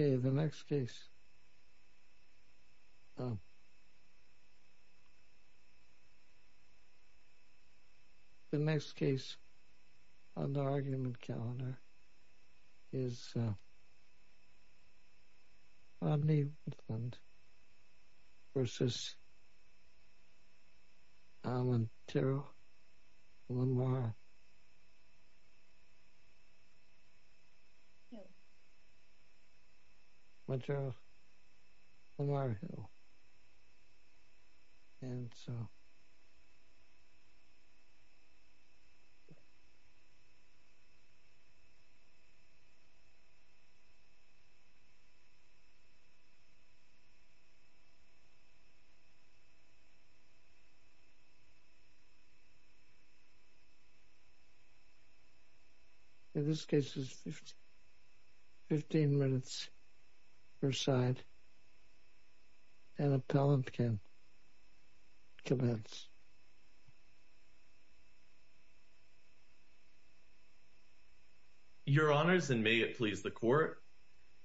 Okay, the next case on the argument calendar is Rodney Woodland v. Al Montero, one bar. Montero, one bar of Hill, and so... In this case, it's 15 minutes per side, and appellant can commence. Your Honors, and may it please the Court,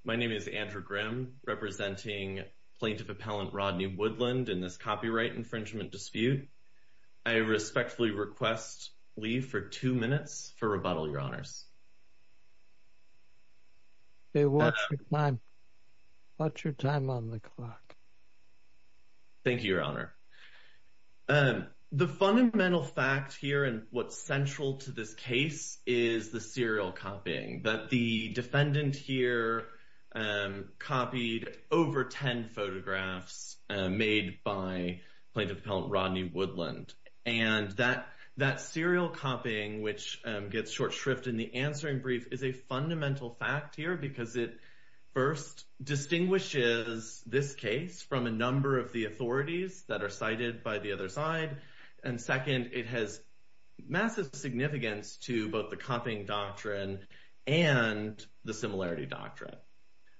my name is Andrew Grimm, representing Plaintiff Appellant Rodney Woodland in this copyright infringement dispute. I respectfully request leave for two minutes for rebuttal, Your Honors. Thank you, Your Honor. The fundamental fact here and what's central to this case is the serial copying, that the defendant here copied over 10 photographs made by Plaintiff Appellant Rodney Woodland, and that serial copying which gets short shrift in the answering brief is a fundamental fact here because it first distinguishes this case from a number of the authorities that are cited by the other side, and second, it has massive significance to both the copying doctrine and the similarity doctrine.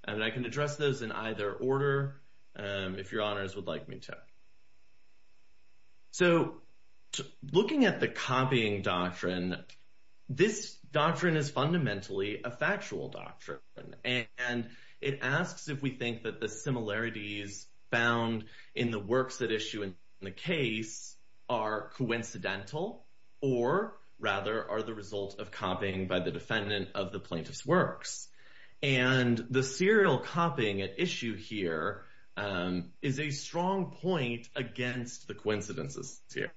And I can address those in either order if Your Honors would like me to. So looking at the copying doctrine, this doctrine is fundamentally a factual doctrine, and it asks if we think that the similarities found in the works that issue in the case are coincidental or rather are the result of copying by the defendant of the plaintiff's works. And the serial copying at issue here is a strong point against the coincidences here.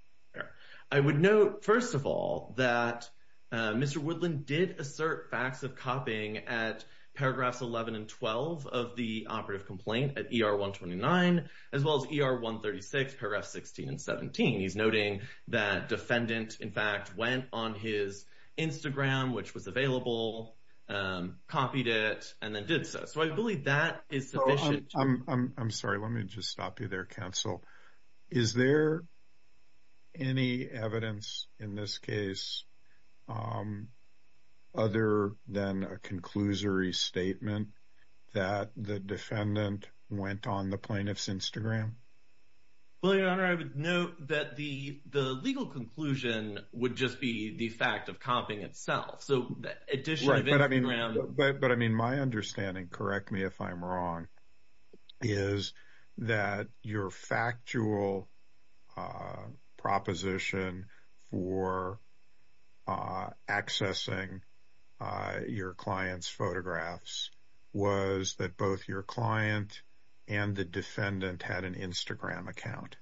I would note, first of all, that Mr. Woodland did assert facts of copying at paragraphs 11 and 12 of the operative complaint at ER 129, as well as ER 136, paragraph 16 and 17. He's noting that defendant, in fact, went on his Instagram, which was available, copied it, and then did so. So I believe that is sufficient. Well, I'm sorry. Let me just stop you there, counsel. Is there any evidence in this case other than a conclusory statement that the defendant went on the plaintiff's Instagram? Well, Your Honor, I would note that the legal conclusion would just be the fact of copying itself. So addition of Instagram... But I mean, my understanding, correct me if I'm wrong, is that your factual proposition for accessing your client's photographs was that both your client and the defendant had an Instagram account.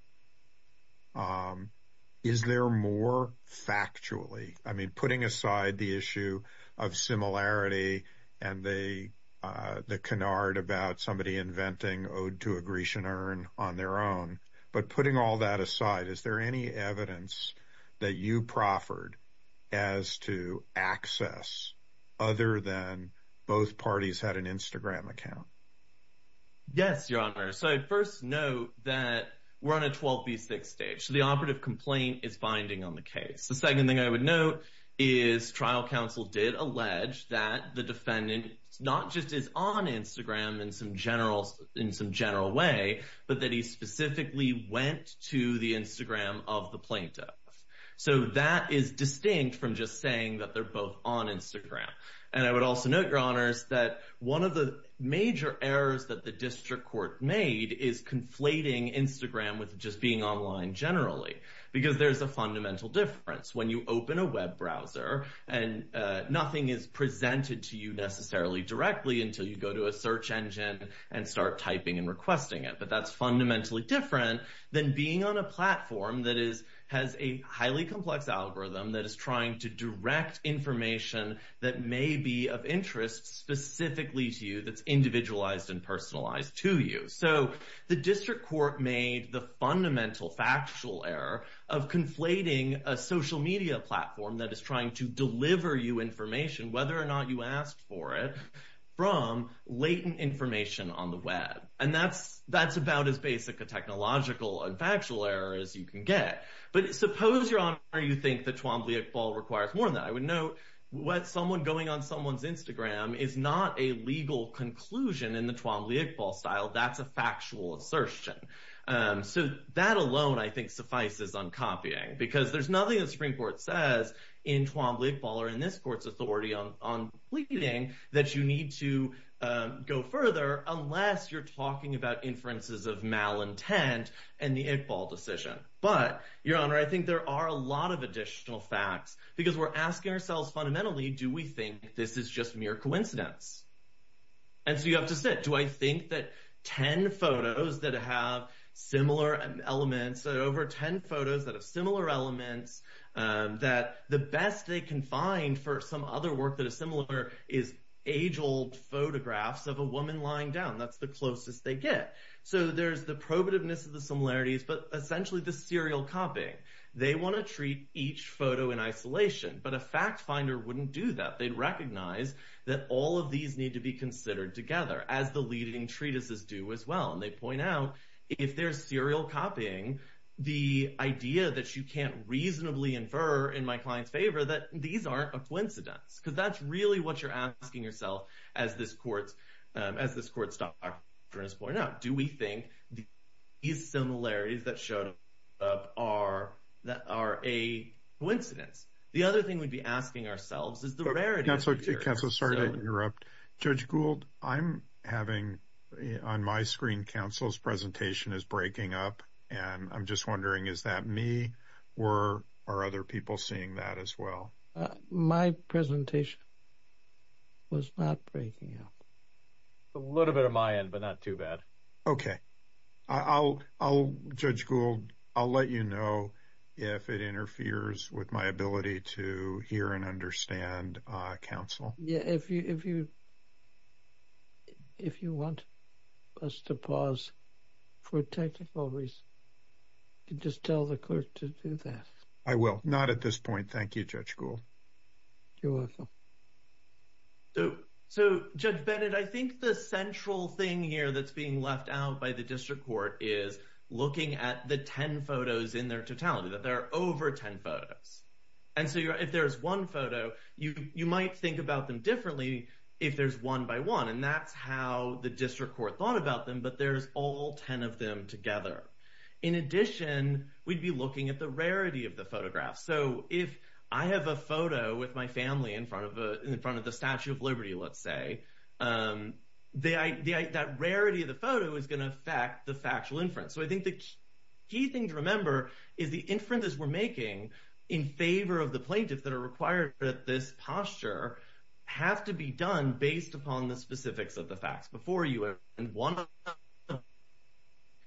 Is there more factually? I mean, putting aside the issue of similarity and the canard about somebody inventing ode to a Grecian urn on their own, but putting all that aside, is there any evidence that you proffered as to access other than both parties had an Instagram account? Yes, Your Honor. So I'd first note that we're on a 12B6 stage. So the operative complaint is binding on the case. The second thing I would note is trial counsel did allege that the defendant not just is on Instagram in some general way, but that he specifically went to the Instagram of the plaintiff. So that is distinct from just saying that they're both on Instagram. And I would also note, Your Honors, that one of the major errors that the district court made is conflating Instagram with just being online generally, because there's a fundamental difference when you open a web browser and nothing is presented to you necessarily directly until you go to a search engine and start typing and requesting it. But that's fundamentally different than being on a platform that has a highly complex algorithm that is trying to direct information that may be of interest specifically to you that's individualized and personalized to you. So the district court made the fundamental factual error of conflating a social media platform that is trying to deliver you information, whether or not you ask for it, from latent information on the web. And that's about as basic a technological and factual error as you can get. But suppose, Your Honor, you think that Twombly Iqbal requires more than that. I would note what someone going on someone's Instagram is not a legal conclusion in the Twombly Iqbal style. That's a factual assertion. So that alone, I think, suffices on copying, because there's nothing the Supreme Court says in Twombly Iqbal or in this court's authority on pleading that you need to go further unless you're talking about inferences of malintent and the Iqbal decision. But, Your Honor, I think there are a lot of additional facts, because we're asking ourselves fundamentally, do we think this is just mere coincidence? And so you have to sit. Do I think that 10 photos that have similar elements, over 10 photos that have similar elements, that the best they can find for some other work that is similar is age-old photographs of a woman lying down. That's the closest they get. So there's the probativeness of the similarities, but essentially the serial copying. They want to treat each photo in isolation, but a fact finder wouldn't do that. They'd recognize that all of these need to be considered together. As the leading treatises do as well. And they point out, if there's serial copying, the idea that you can't reasonably infer, in my client's favor, that these aren't a coincidence. Because that's really what you're asking yourself as this court's doctor has pointed out. Do we think these similarities that showed up are a coincidence? The other thing we'd be asking ourselves is the rarity. Counsel, sorry to interrupt. Judge Gould, I'm having on my screen, counsel's presentation is breaking up. And I'm just wondering, is that me? Or are other people seeing that as well? My presentation was not breaking up. A little bit of my end, but not too bad. Okay, I'll, Judge Gould, I'll let you know if it interferes with my ability to hear and understand counsel. Yeah, if you want us to pause for technical reasons, you can just tell the clerk to do that. I will. Not at this point. Thank you, Judge Gould. You're welcome. So, Judge Bennett, I think the central thing here that's being left out by the district court is looking at the 10 photos in their totality, that there are over 10 photos. And so, if there's one photo, you might think about them differently if there's one by one. And that's how the district court thought about them. But there's all 10 of them together. In addition, we'd be looking at the rarity of the photograph. So, if I have a photo with my family in front of the Statue of Liberty, let's say, that rarity of the photo is going to affect the factual inference. So, I think the key thing to remember is the inferences we're making in favor of the plaintiffs that are required for this posture have to be done based upon the specifics of the facts. Before you, one of them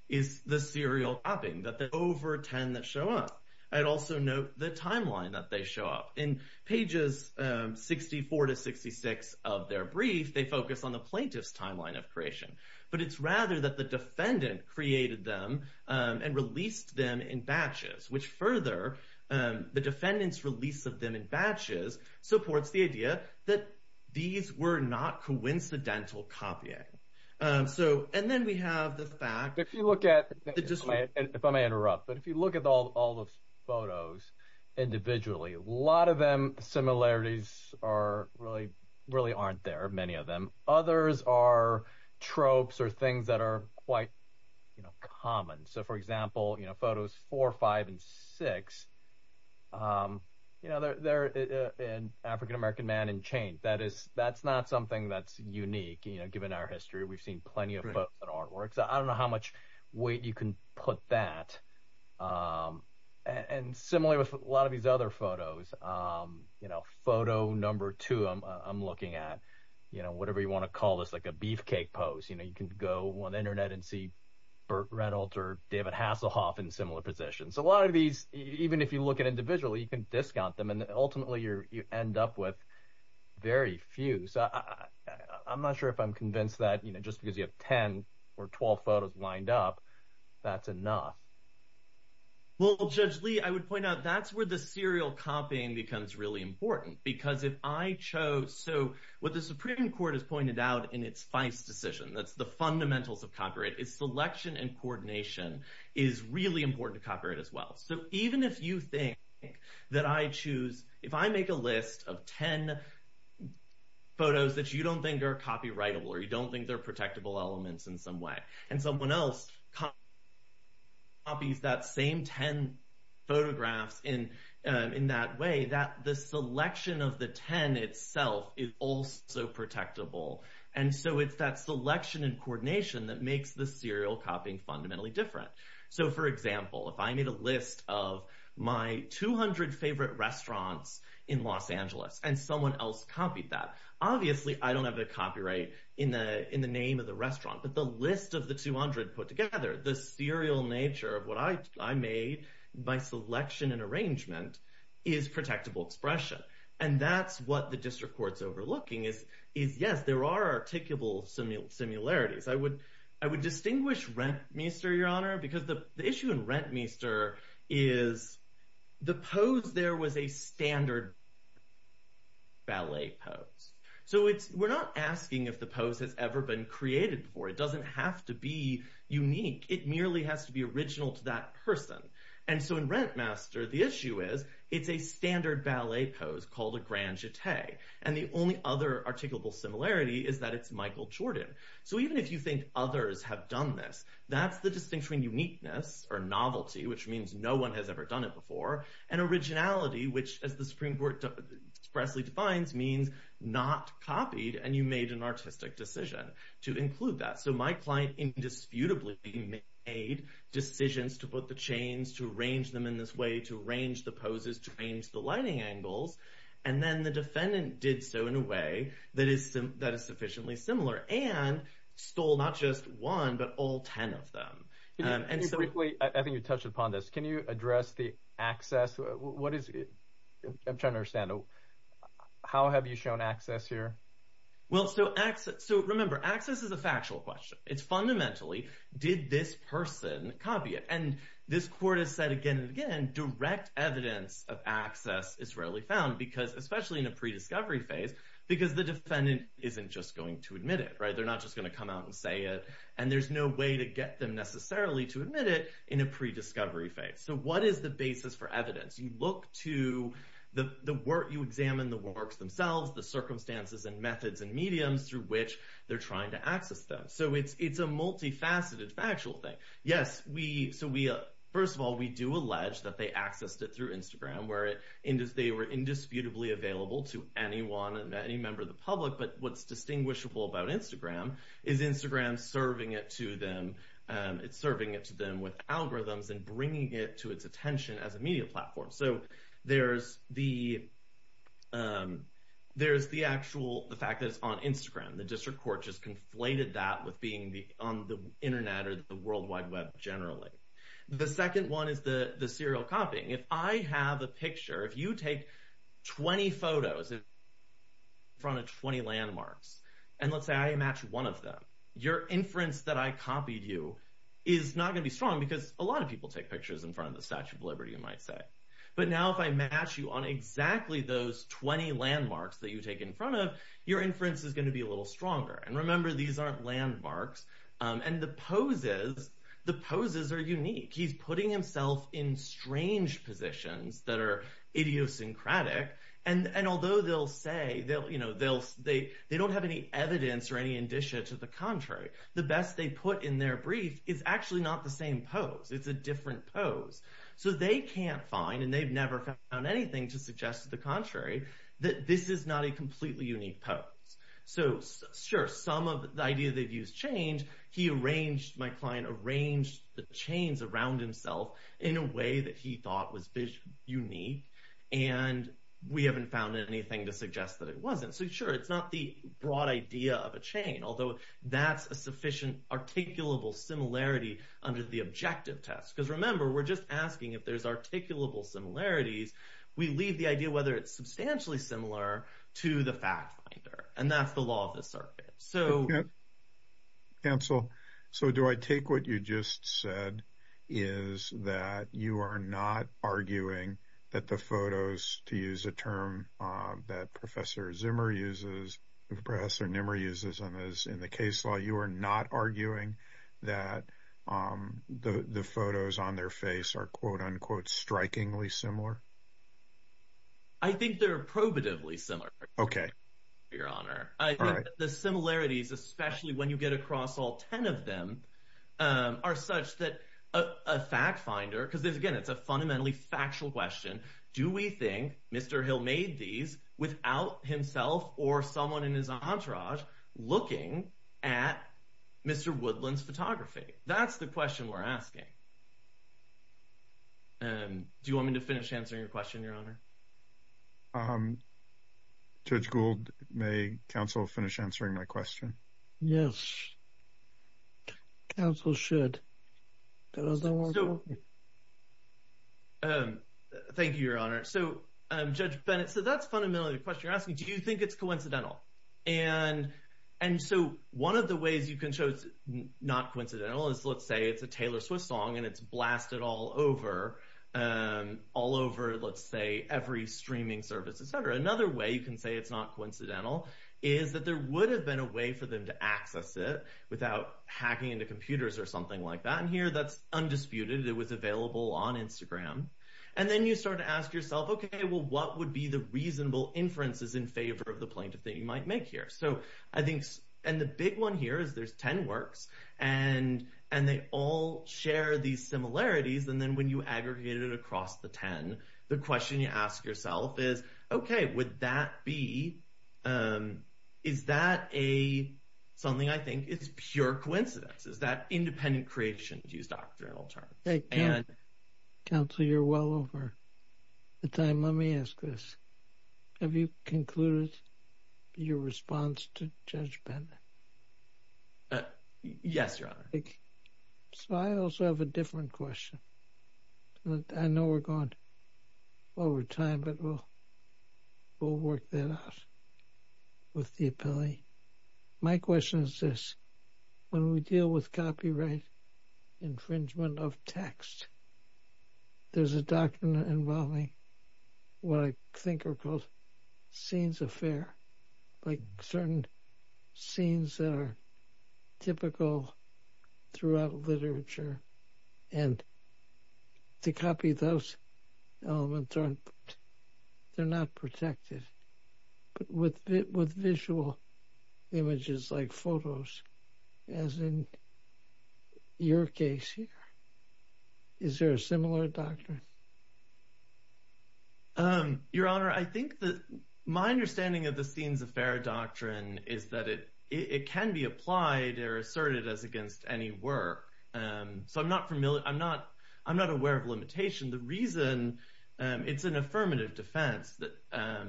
is the serial copying, that there are over 10 that show up. I'd also note the timeline that they show up. In pages 64 to 66 of their brief, they focus on the plaintiff's timeline of creation. But it's rather that the defendant created them and released them in batches, which further, the defendant's release of them in batches supports the idea that these were not coincidental copying. So, and then we have the fact, if you look at, if I may interrupt, but if you look at all the photos individually, a lot of them, similarities are really, really aren't there, many of them. Others are tropes or things that are quite, you know, common. So, for example, you know, photos four, five, and six, you know, they're an African-American man in chain. That is, that's not something that's unique, you know, given our history. We've seen plenty of artworks. I don't know how much weight you can put that. And similarly, with a lot of these other photos, you know, photo number two, I'm looking at, you know, whatever you want to call this, like a beefcake pose. You know, you can go on the internet and see Burt Reynolds or David Hasselhoff in similar positions. A lot of these, even if you look at individually, you can discount them. And ultimately, you end up with very few. So, I'm not sure if I'm convinced that, you know, just because you have 10 or 12 photos lined up, that's enough. Well, Judge Lee, I would point out that's where the serial copying becomes really important. Because if I chose, so, what the Supreme Court has pointed out in its FICE decision, that's the fundamentals of copyright, is selection and coordination is really important to copyright as well. So, even if you think that I choose, if I make a list of 10 photos that you don't think are copyrightable, or you don't think they're protectable elements in some way, and someone else copies that same 10 photographs in that way, the selection of the 10 itself is also protectable. And so, it's that selection and coordination that makes the serial copying fundamentally different. So, for example, if I made a list of my 200 favorite restaurants in Los Angeles, and someone else copied that, obviously, I don't have the copyright in the name of the restaurant. But the list of the 200 put together, the serial nature of what I made, by selection and arrangement, is protectable expression. And that's what the district court's overlooking, is yes, there are articulable similarities. I would distinguish Rentmeester, Your Honor, because the issue in Rentmeester is the pose there was a standard ballet pose. So, we're not asking if the pose has ever been created before. It doesn't have to be unique. It merely has to be original to that person. So, in Rentmeester, the issue is it's a standard ballet pose called a grand jeté. And the only other articulable similarity is that it's Michael Jordan. So, even if you think others have done this, that's the distinction between uniqueness or novelty, which means no one has ever done it before, and originality, which, as the Supreme Court expressly defines, means not copied, and you made an artistic decision to include that. So, my client indisputably made decisions to put the chains, to arrange them in this way, to arrange the poses, to arrange the lighting angles, and then the defendant did so in a way that is sufficiently similar and stole not just one, but all 10 of them. And so— Quickly, I think you touched upon this. Can you address the access? I'm trying to understand. How have you shown access here? Well, so access— So, remember, access is a factual question. It's fundamentally, did this person copy it? And this court has said again and again, direct evidence of access is rarely found, because, especially in a prediscovery phase, because the defendant isn't just going to admit it, right? They're not just going to come out and say it. And there's no way to get them necessarily to admit it in a prediscovery phase. So, what is the basis for evidence? You look to the work— You examine the works themselves, the circumstances and methods and mediums through which they're trying to access them. So, it's a multifaceted factual thing. Yes, we— So, we— First of all, we do allege that they accessed it through Instagram, where they were indisputably available to anyone and any member of the public. But what's distinguishable about Instagram is Instagram serving it to them— It's serving it to them with algorithms and bringing it to its attention as a media platform. So, there's the actual— the fact that it's on Instagram. The district court just conflated that with being on the internet or the World Wide Web generally. The second one is the serial copying. If I have a picture— If you take 20 photos in front of 20 landmarks, and let's say I match one of them, your inference that I copied you is not going to be strong, because a lot of people take pictures in front of the Statue of Liberty, you might say. But now, if I match you on exactly those 20 landmarks that you take in front of, your inference is going to be a little stronger. And remember, these aren't landmarks. And the poses— The poses are unique. He's putting himself in strange positions that are idiosyncratic. And although they'll say— They'll— You know, they'll— They don't have any evidence or any indicia to the contrary. The best they put in their brief is actually not the same pose. It's a different pose. So they can't find— And they've never found anything to suggest to the contrary that this is not a completely unique pose. So, sure, some of— The idea they've used change. He arranged— My client arranged the chains around himself in a way that he thought was unique. And we haven't found anything to suggest that it wasn't. So, sure, it's not the broad idea of a chain, although that's a sufficient articulable similarity under the objective test. Because, remember, we're just asking if there's articulable similarities. We leave the idea whether it's substantially similar to the fact finder. And that's the law of the circuit. So— Cancel. So do I take what you just said is that you are not arguing that the photos, to use a term that Professor Zimmer uses— Professor Nimmer uses in the case law, you are not arguing that the photos on their face are quote-unquote strikingly similar? I think they're probatively similar, Your Honor. The similarities, especially when you get across all 10 of them, are such that a fact finder— Because, again, it's a fundamentally factual question. Do we think Mr. Hill made these without himself or someone in his entourage looking at Mr. Woodland's photography? That's the question we're asking. Do you want me to finish answering your question, Your Honor? Judge Gould, may counsel finish answering my question? Yes. Counsel should. Thank you, Your Honor. So, Judge Bennett, so that's fundamentally the question you're asking. Do you think it's coincidental? And so one of the ways you can show it's not coincidental is, let's say it's a Taylor Swift song and it's blasted all over, all over, let's say, every streaming service, etc. Another way you can say it's not coincidental is that there would have been a way for them to access it without hacking into computers or something like that. And here that's undisputed. It was available on Instagram. And then you start to ask yourself, well, what would be the reasonable inferences in favor of the plaintiff that you might make here? And the big one here is there's 10 works and they all share these similarities. And then when you aggregate it across the 10, the question you ask yourself is, okay, would that be, is that something I think is pure coincidence? Is that independent creation, to use doctrinal terms? Counsel, you're well over. At the time, let me ask this. Have you concluded your response to Judge Bennett? Yes, Your Honor. So I also have a different question. I know we're going over time, but we'll work that out with the appellee. My question is this. When we deal with copyright infringement of text, there's a doctrine involving what I think are called scenes of fear, like certain scenes that are typical throughout literature. And to copy those elements, they're not protected. But with visual images like photos, as in your case here, is there a similar doctrine? Your Honor, I think that my understanding of the scenes of fear doctrine is that it can be applied or asserted as against any work. So I'm not familiar, I'm not aware of limitation. The reason, it's an affirmative defense.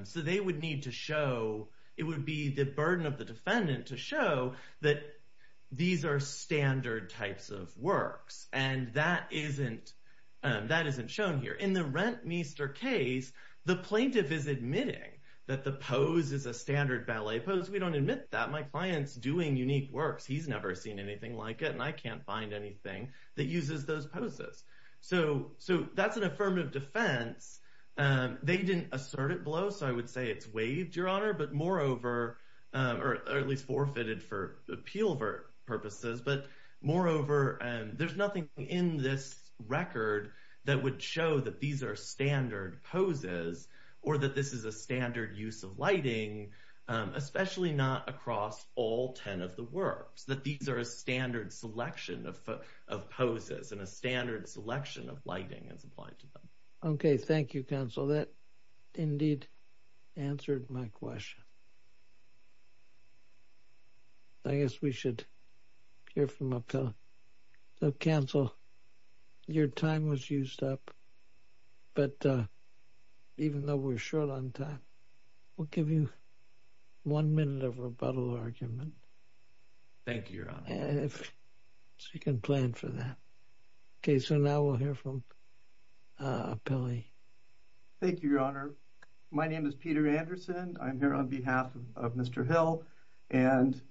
So they would need to show, it would be the burden of the defendant to show that these are standard types of works. And that isn't shown here. In the Rentmeester case, the plaintiff is admitting that the pose is a standard ballet pose. We don't admit that. My client's doing unique works. He's never seen anything like it. And I can't find anything that uses those poses. So that's an affirmative defense. They didn't assert it below. So I would say it's waived, Your Honor, but moreover, or at least forfeited for appeal purposes. But moreover, there's nothing in this record that would show that these are standard poses or that this is a standard use of lighting, especially not across all 10 of the works. That these are a standard selection of poses and a standard selection of lighting is applied to them. Okay, thank you, counsel. That indeed answered my question. I guess we should hear from Appellee. So, counsel, your time was used up. But even though we're short on time, we'll give you one minute of rebuttal argument. Thank you, Your Honor. And if you can plan for that. Okay, so now we'll hear from Appellee. Thank you, Your Honor. My name is Peter Anderson. I'm here on behalf of the Court of Appeals. I'm here on behalf of Mr. Hill. And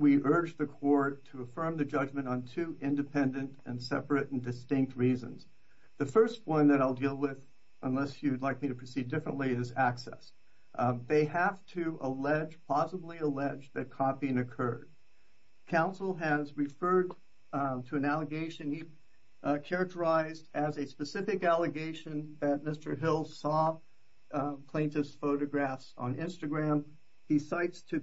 we urge the court to affirm the judgment on two independent and separate and distinct reasons. The first one that I'll deal with, unless you'd like me to proceed differently, is access. They have to allege, plausibly allege, that copying occurred. Counsel has referred to an allegation he characterized as a specific allegation that Mr. Hill saw plaintiff's photographs on Instagram he cites to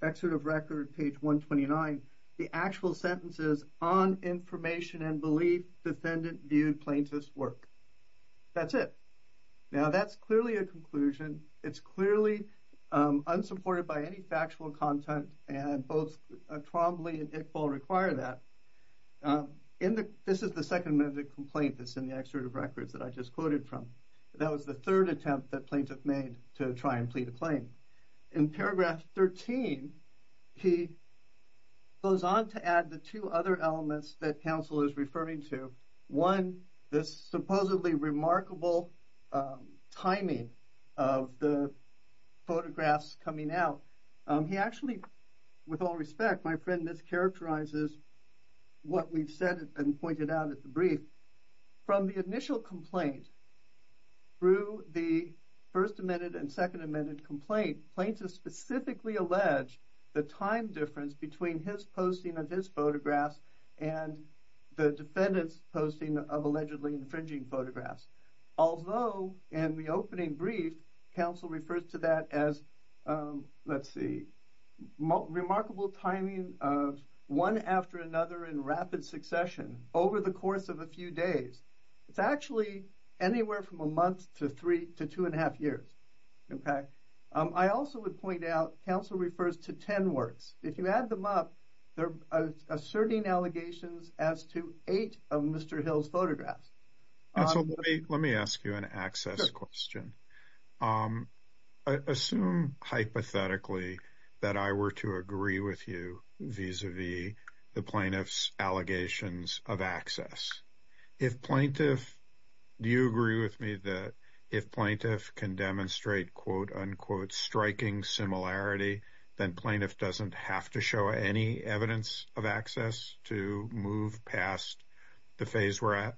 excerpt of record, page 129, the actual sentences on information and belief defendant viewed plaintiff's work. That's it. Now, that's clearly a conclusion. It's clearly unsupported by any factual content. And both Trombley and Iqbal require that. This is the second minute of the complaint that's in the excerpt of records that I just quoted from. That was the third attempt that plaintiff made to try and plead a claim. In paragraph 13, he goes on to add the two other elements that counsel is referring to. One, this supposedly remarkable timing of the photographs coming out. He actually, with all respect, my friend, this characterizes what we've said and pointed out at the brief. From the initial complaint, through the first amended and second amended complaint, plaintiff specifically alleged the time difference between his posting of his photographs and the defendant's posting of allegedly infringing photographs. Although in the opening brief, counsel refers to that as, let's see, remarkable timing of one after another in rapid succession over the course of a few days. It's actually anywhere from a month to two and a half years. I also would point out, counsel refers to 10 words. If you add them up, they're asserting allegations as to eight of Mr. Hill's photographs. And so let me ask you an access question. Assume hypothetically that I were to agree with you vis-a-vis the plaintiff's allegations of access. If plaintiff, do you agree with me that if plaintiff can demonstrate quote, unquote, striking similarity, then plaintiff doesn't have to show any evidence of access to move past the phase we're at?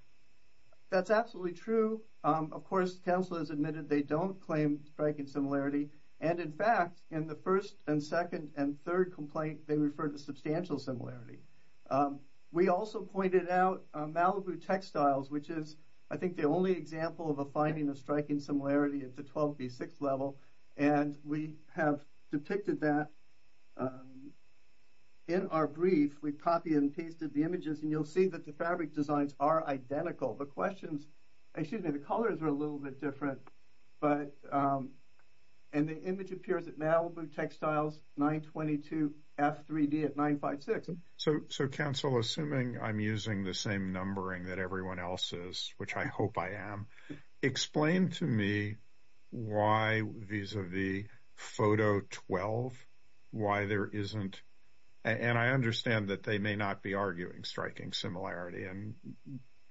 That's absolutely true. Of course, counsel has admitted they don't claim striking similarity. And in fact, in the first and second and third complaint, they refer to substantial similarity. We also pointed out Malibu textiles, which is I think the only example of a finding of striking similarity at the 12B6 level. And we have depicted that in our brief. We've copied and pasted the images and you'll see that the fabric designs are identical. The questions, excuse me, the colors are a little bit different, and the image appears at Malibu textiles, 922F3D at 956. So counsel, assuming I'm using the same numbering that everyone else is, which I hope I am, explain to me why vis-a-vis photo 12, why there isn't, and I understand that they may not be arguing striking similarity and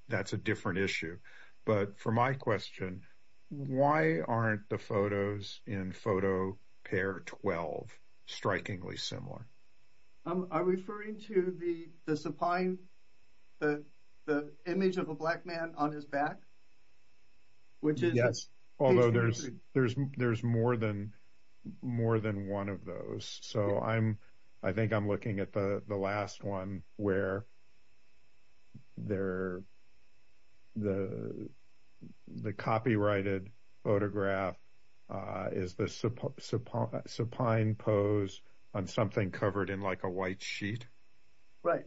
that's a different issue. But for my question, why aren't the photos in photo pair 12 strikingly similar? I'm referring to the supine, the image of a black man on his back, which is- Although there's more than one of those. So I think I'm looking at the last one where the copyrighted photograph is the supine pose on something covered in like a white sheet. Right.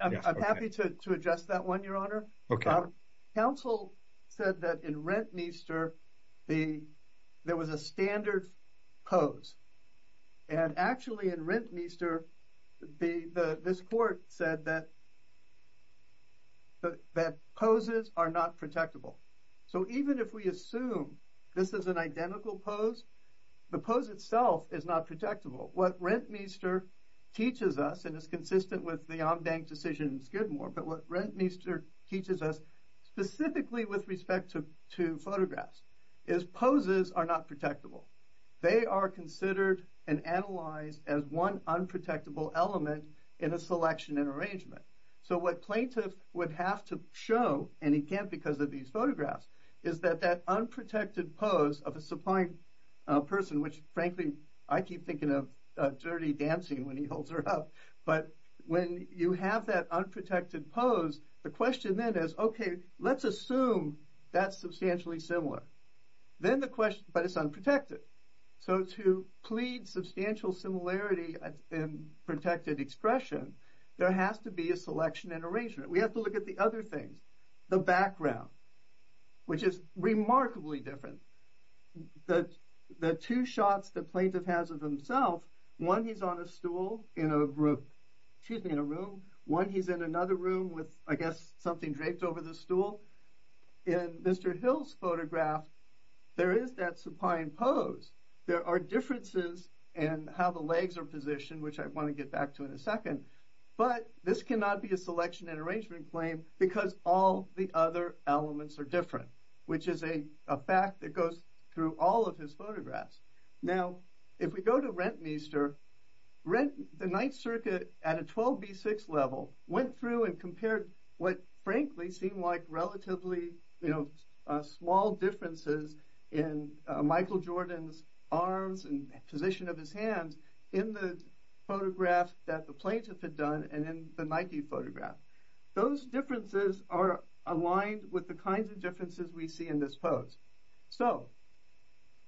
I'm happy to adjust that one, Your Honor. Counsel said that in Rentmeester, there was a standard pose. And actually in Rentmeester, this court said that poses are not protectable. So even if we assume this is an identical pose, the pose itself is not protectable. What Rentmeester teaches us, and it's consistent with the Omdang decision in Skidmore, but what Rentmeester teaches us specifically with respect to photographs is poses are not protectable. They are considered and analyzed as one unprotectable element in a selection and arrangement. So what plaintiff would have to show, and he can't because of these photographs, is that that unprotected pose of a supine person, which frankly, I keep thinking of Dirty Dancing when he holds her up. But when you have that unprotected pose, the question then is, okay, let's assume that's substantially similar. But it's unprotected. So to plead substantial similarity in protected expression, there has to be a selection and arrangement. We have to look at the other things. The background, which is remarkably different. The two shots the plaintiff has of himself, one he's on a stool in a room, one he's in another room with, I guess, something draped over the stool. In Mr. Hill's photograph, there is that supine pose. There are differences in how the legs are positioned, which I want to get back to in a second. But this cannot be a selection and arrangement claim because all the other elements are different, which is a fact that goes through all of his photographs. Now, if we go to Rentmeester, the Ninth Circuit at a 12B6 level went through and compared what frankly seemed like relatively small differences in Michael Jordan's arms and position of his hands in the photograph that the plaintiff had done and in the Nike photograph. Those differences are aligned with the kinds of differences we see in this pose. So,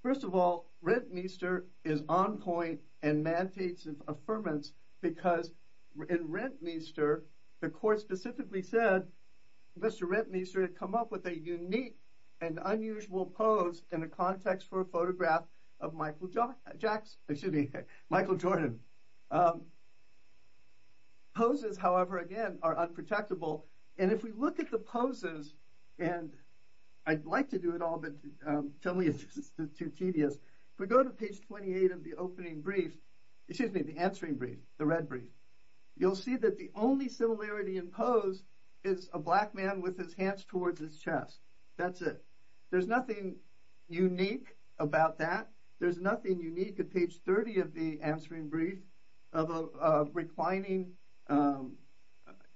first of all, Rentmeester is on point and mandates of affirmance because in Rentmeester, the court specifically said Mr. Rentmeester had come up with a unique and unusual pose in a context for a photograph of Michael Jackson, excuse me, Michael Jordan. Poses, however, again, are unprotectable. And if we look at the poses, and I'd like to do it all, but to me, it's just too tedious. If we go to page 28 of the opening brief, excuse me, the answering brief, the red brief, you'll see that the only similarity in pose is a black man with his hands towards his chest. That's it. There's nothing unique about that. There's nothing unique at page 30 of the answering brief. Of a reclining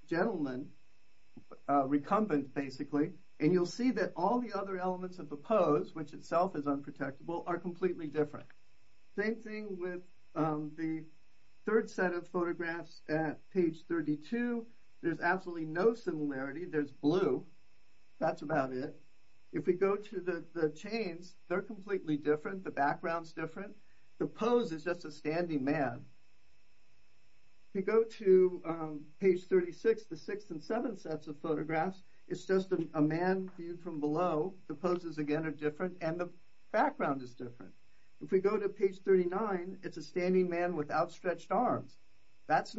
gentleman, recumbent, basically. And you'll see that all the other elements of the pose, which itself is unprotectable, are completely different. Same thing with the third set of photographs at page 32. There's absolutely no similarity. There's blue. That's about it. If we go to the chains, they're completely different. The background's different. The pose is just a standing man. If you go to page 36, the sixth and seventh sets of photographs, it's just a man viewed from below. The poses, again, are different. And the background is different. If we go to page 39, it's a standing man with outstretched arms. There's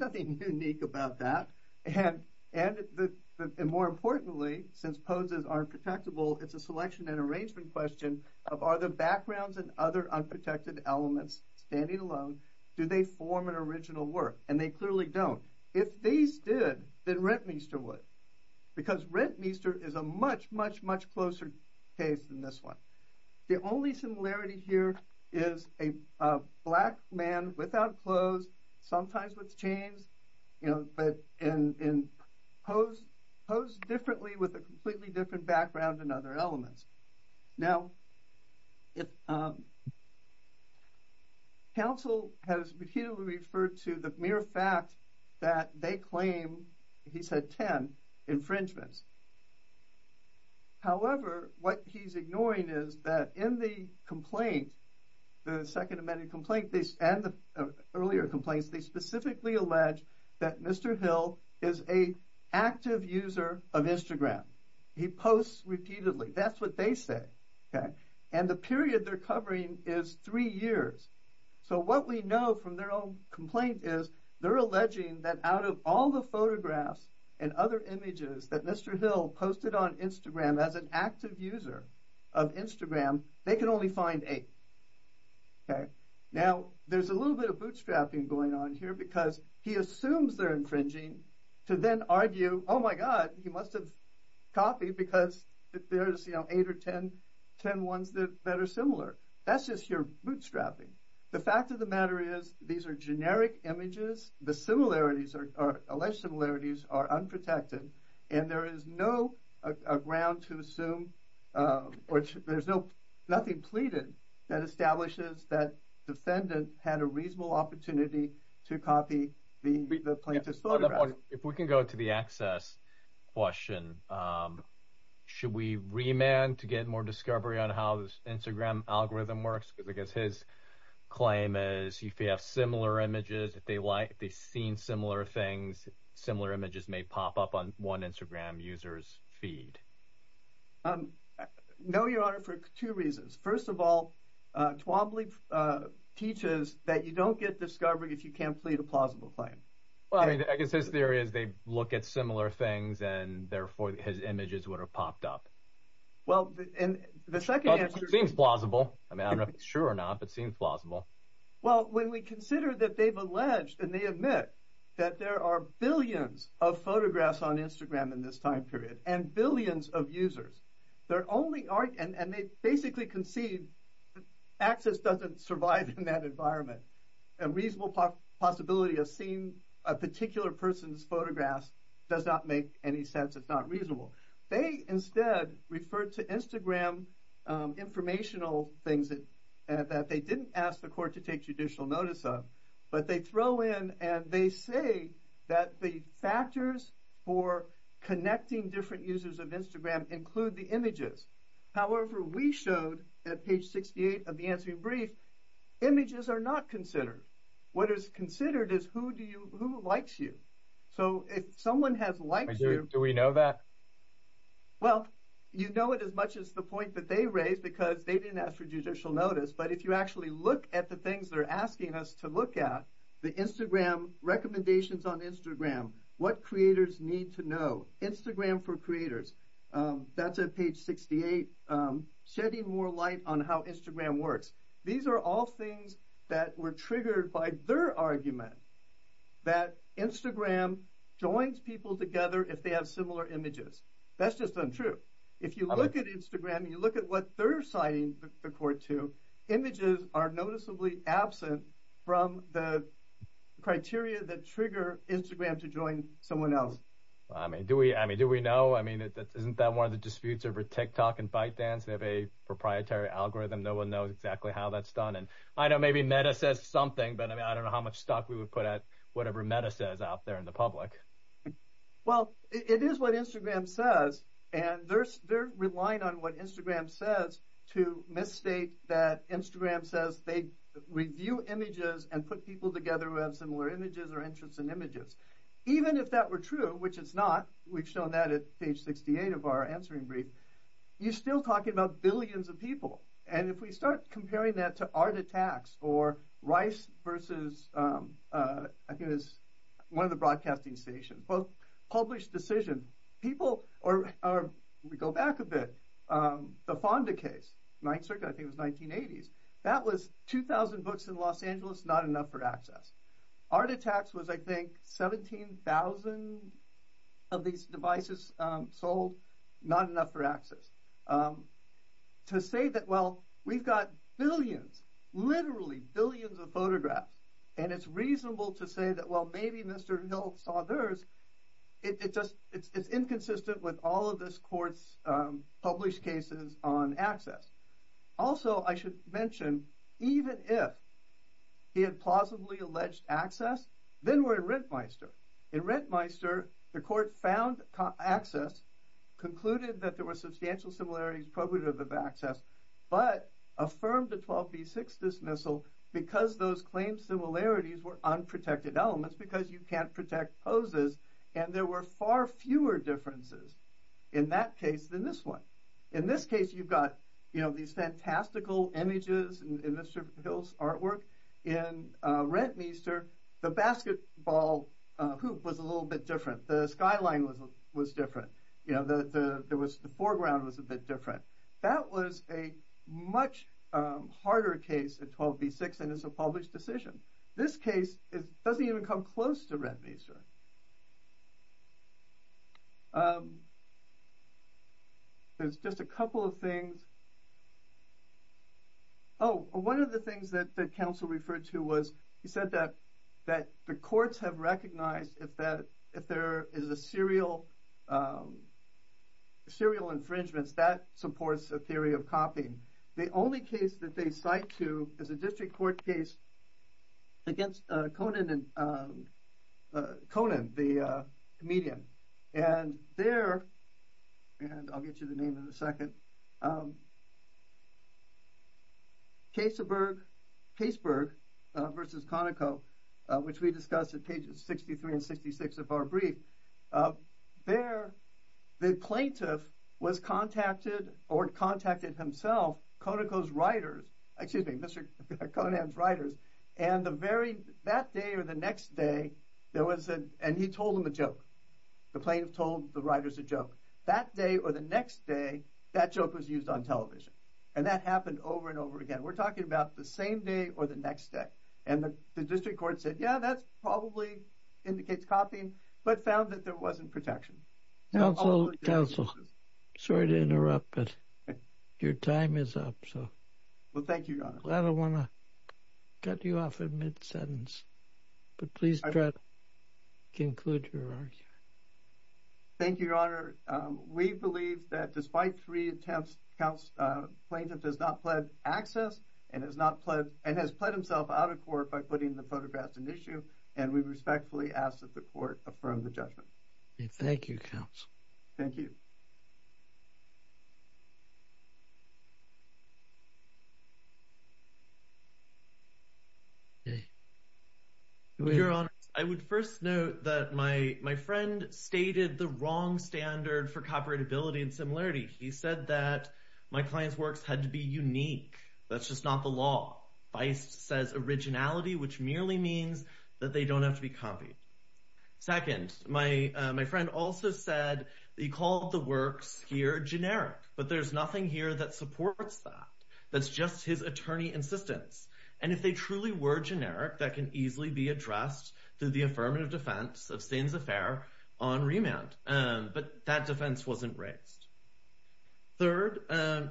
nothing unique about that. And more importantly, since poses aren't protectable, it's a selection and arrangement question of are the backgrounds and other unprotected elements standing alone? Do they form an original work? And they clearly don't. If these did, then Rentmeester would. Because Rentmeester is a much, much, much closer case than this one. The only similarity here is a black man without clothes, sometimes with chains, but posed differently with a completely different background and other elements. Now, council has repeatedly referred to the mere fact that they claim, he said, 10 infringements. However, what he's ignoring is that in the complaint, the second amended complaint and the earlier complaints, they specifically allege that Mr. Hill is a active user of Instagram. He posts repeatedly. That's what they say. And the period they're covering is three years. So what we know from their own complaint is they're alleging that out of all the photographs and other images that Mr. Hill posted on Instagram as an active user of Instagram, they can only find eight. Now, there's a little bit of bootstrapping going on here because he assumes they're infringing to then argue, oh my god, he must have copied because there's eight or 10 ones that are similar. That's just your bootstrapping. The fact of the matter is these are generic images. The similarities or alleged similarities are unprotected and there is no ground to assume, which there's nothing pleaded that establishes that defendant had a reasonable opportunity to copy the plaintiff's photograph. If we can go to the access question, should we remand to get more discovery on how this Instagram algorithm works? Because I guess his claim is if you have similar images, if they've seen similar things, similar images may pop up on one Instagram user's feed. No, Your Honor, for two reasons. First of all, Twombly teaches that you don't get discovery if you can't plead a plausible claim. Well, I guess his theory is they look at similar things and therefore his images would have popped up. Well, and the second answer- Seems plausible. I mean, I don't know if it's true or not, but it seems plausible. Well, when we consider that they've alleged and they admit that there are billions of photographs on Instagram in this time period and billions of users, there only are, and they basically concede access doesn't survive in that environment. A reasonable possibility of seeing a particular person's photographs does not make any sense. It's not reasonable. They instead refer to Instagram informational things that they didn't ask the court to take judicial notice of, but they throw in and they say that the factors for connecting different users of Instagram include the images. However, we showed at page 68 of the answering brief, images are not considered. What is considered is who likes you. So if someone has liked you- Do we know that? Well, you know it as much as the point that they raised because they didn't ask for judicial notice. But if you actually look at the things they're asking us to look at, the Instagram recommendations on Instagram, what creators need to know, Instagram for creators, that's at page 68, shedding more light on how Instagram works. These are all things that were triggered by their argument that Instagram joins people together if they have similar images. That's just untrue. If you look at Instagram and you look at what they're citing the court to, images are noticeably absent from the criteria that trigger Instagram to join someone else. Do we know? Isn't that one of the disputes over TikTok and ByteDance? They have a proprietary algorithm. No one knows exactly how that's done. And I know maybe Meta says something, but I don't know how much stock we would put at whatever Meta says out there in the public. Well, it is what Instagram says. And they're relying on what Instagram says to misstate that Instagram says they review images and put people together who have similar images or interests in images. Even if that were true, which it's not, we've shown that at page 68 of our answering brief, you're still talking about billions of people. And if we start comparing that to Art Attacks or Rice versus, I think it was one of the broadcasting stations, both published decision, people, we go back a bit, the Fonda case, Ninth Circuit, I think it was 1980s. That was 2,000 books in Los Angeles, not enough for access. Art Attacks was, I think, 17,000 of these devices sold, not enough for access. To say that, well, we've got billions, literally billions of photographs. And it's reasonable to say that, well, maybe Mr. Hill saw theirs. It just, it's inconsistent with all of this court's published cases on access. Also, I should mention, even if he had plausibly alleged access, then we're in Rentmeister. In Rentmeister, the court found access, concluded that there were substantial similarities probative of access, but affirmed the 12b6 dismissal because those claims similarities were unprotected elements, because you can't protect poses. And there were far fewer differences in that case than this one. In this case, you've got these fantastical images in Mr. Hill's artwork. In Rentmeister, the basketball hoop was a little bit different. The skyline was different. The foreground was a bit different. That was a much harder case than 12b6 and it's a published decision. This case doesn't even come close to Rentmeister. There's just a couple of things. Oh, one of the things that the counsel referred to was he said that the courts have recognized if there is a serial infringements, that supports a theory of copying. The only case that they cite to is a district court case against Conan, the comedian. And there, and I'll get you the name in a second, Caseburg versus Conoco, which we discussed at pages 63 and 66 of our brief. There, the plaintiff was contacted or contacted himself, Conoco's writers, excuse me, Mr. Conan's writers. And that day or the next day, there was a, and he told him a joke. The plaintiff told the writers a joke. That day or the next day, that joke was used on television. And that happened over and over again. We're talking about the same day or the next day. And the district court said, yeah, that's probably indicates copying, but found that there wasn't protection. Counsel, counsel, sorry to interrupt, but your time is up, so. Well, thank you, Your Honor. I don't want to cut you off at mid-sentence, but please try to conclude your argument. Thank you, Your Honor. We believe that despite three attempts, plaintiff has not pled access and has not pled, and has pled himself out of court by putting the photographs in issue. And we respectfully ask that the court affirm the judgment. And thank you, counsel. Thank you. Your Honor, I would first note that my friend stated the wrong standard for copyrightability and similarity. He said that my client's works had to be unique. That's just not the law. Feist says originality, which merely means that they don't have to be copied. Second, my friend also said that he called the works here generic, but there's nothing here that supports that. That's just his attorney insistence. And if they truly were generic, that can easily be addressed through the affirmative defense of Sands Affair on remand. But that defense wasn't raised. Third,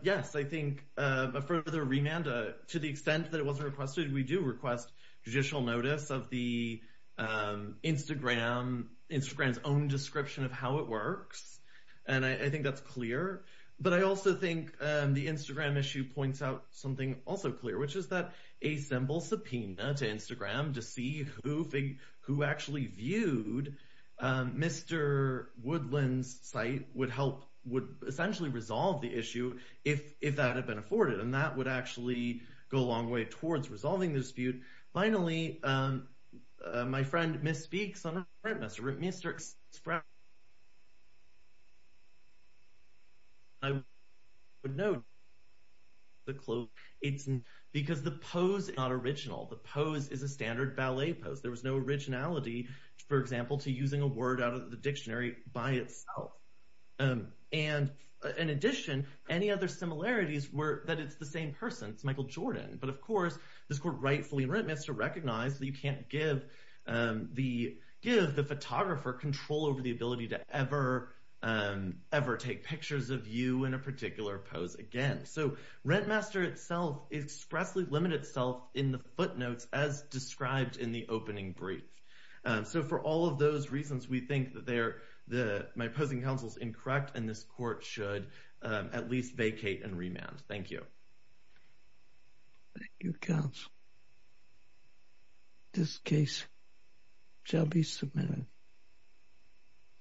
yes, I think a further remand to the extent that it wasn't requested, we do request judicial notice of the Instagram's own description of how it works. And I think that's clear. But I also think the Instagram issue points out something also clear, which is that a simple subpoena to Instagram to see who actually viewed Mr. Woodland's site would help, would essentially resolve the issue if that had been afforded. And that would actually go a long way towards resolving the dispute. Finally, my friend misspeaks on a premise. Mr. Spratt, I would note the clue. It's because the pose is not original. The pose is a standard ballet pose. There was no originality, for example, to using a word out of the dictionary by itself. And in addition, any other similarities were that it's the same person. It's Michael Jordan. But of course, this court rightfully in Rentmaster recognized that you can't give the photographer control over the ability to ever take pictures of you in a particular pose again. So Rentmaster itself expressly limited itself in the footnotes as described in the opening brief. So for all of those reasons, we think that my opposing counsel's incorrect. And this court should at least vacate and remand. Thank you. Thank you, counsel. This case shall be submitted.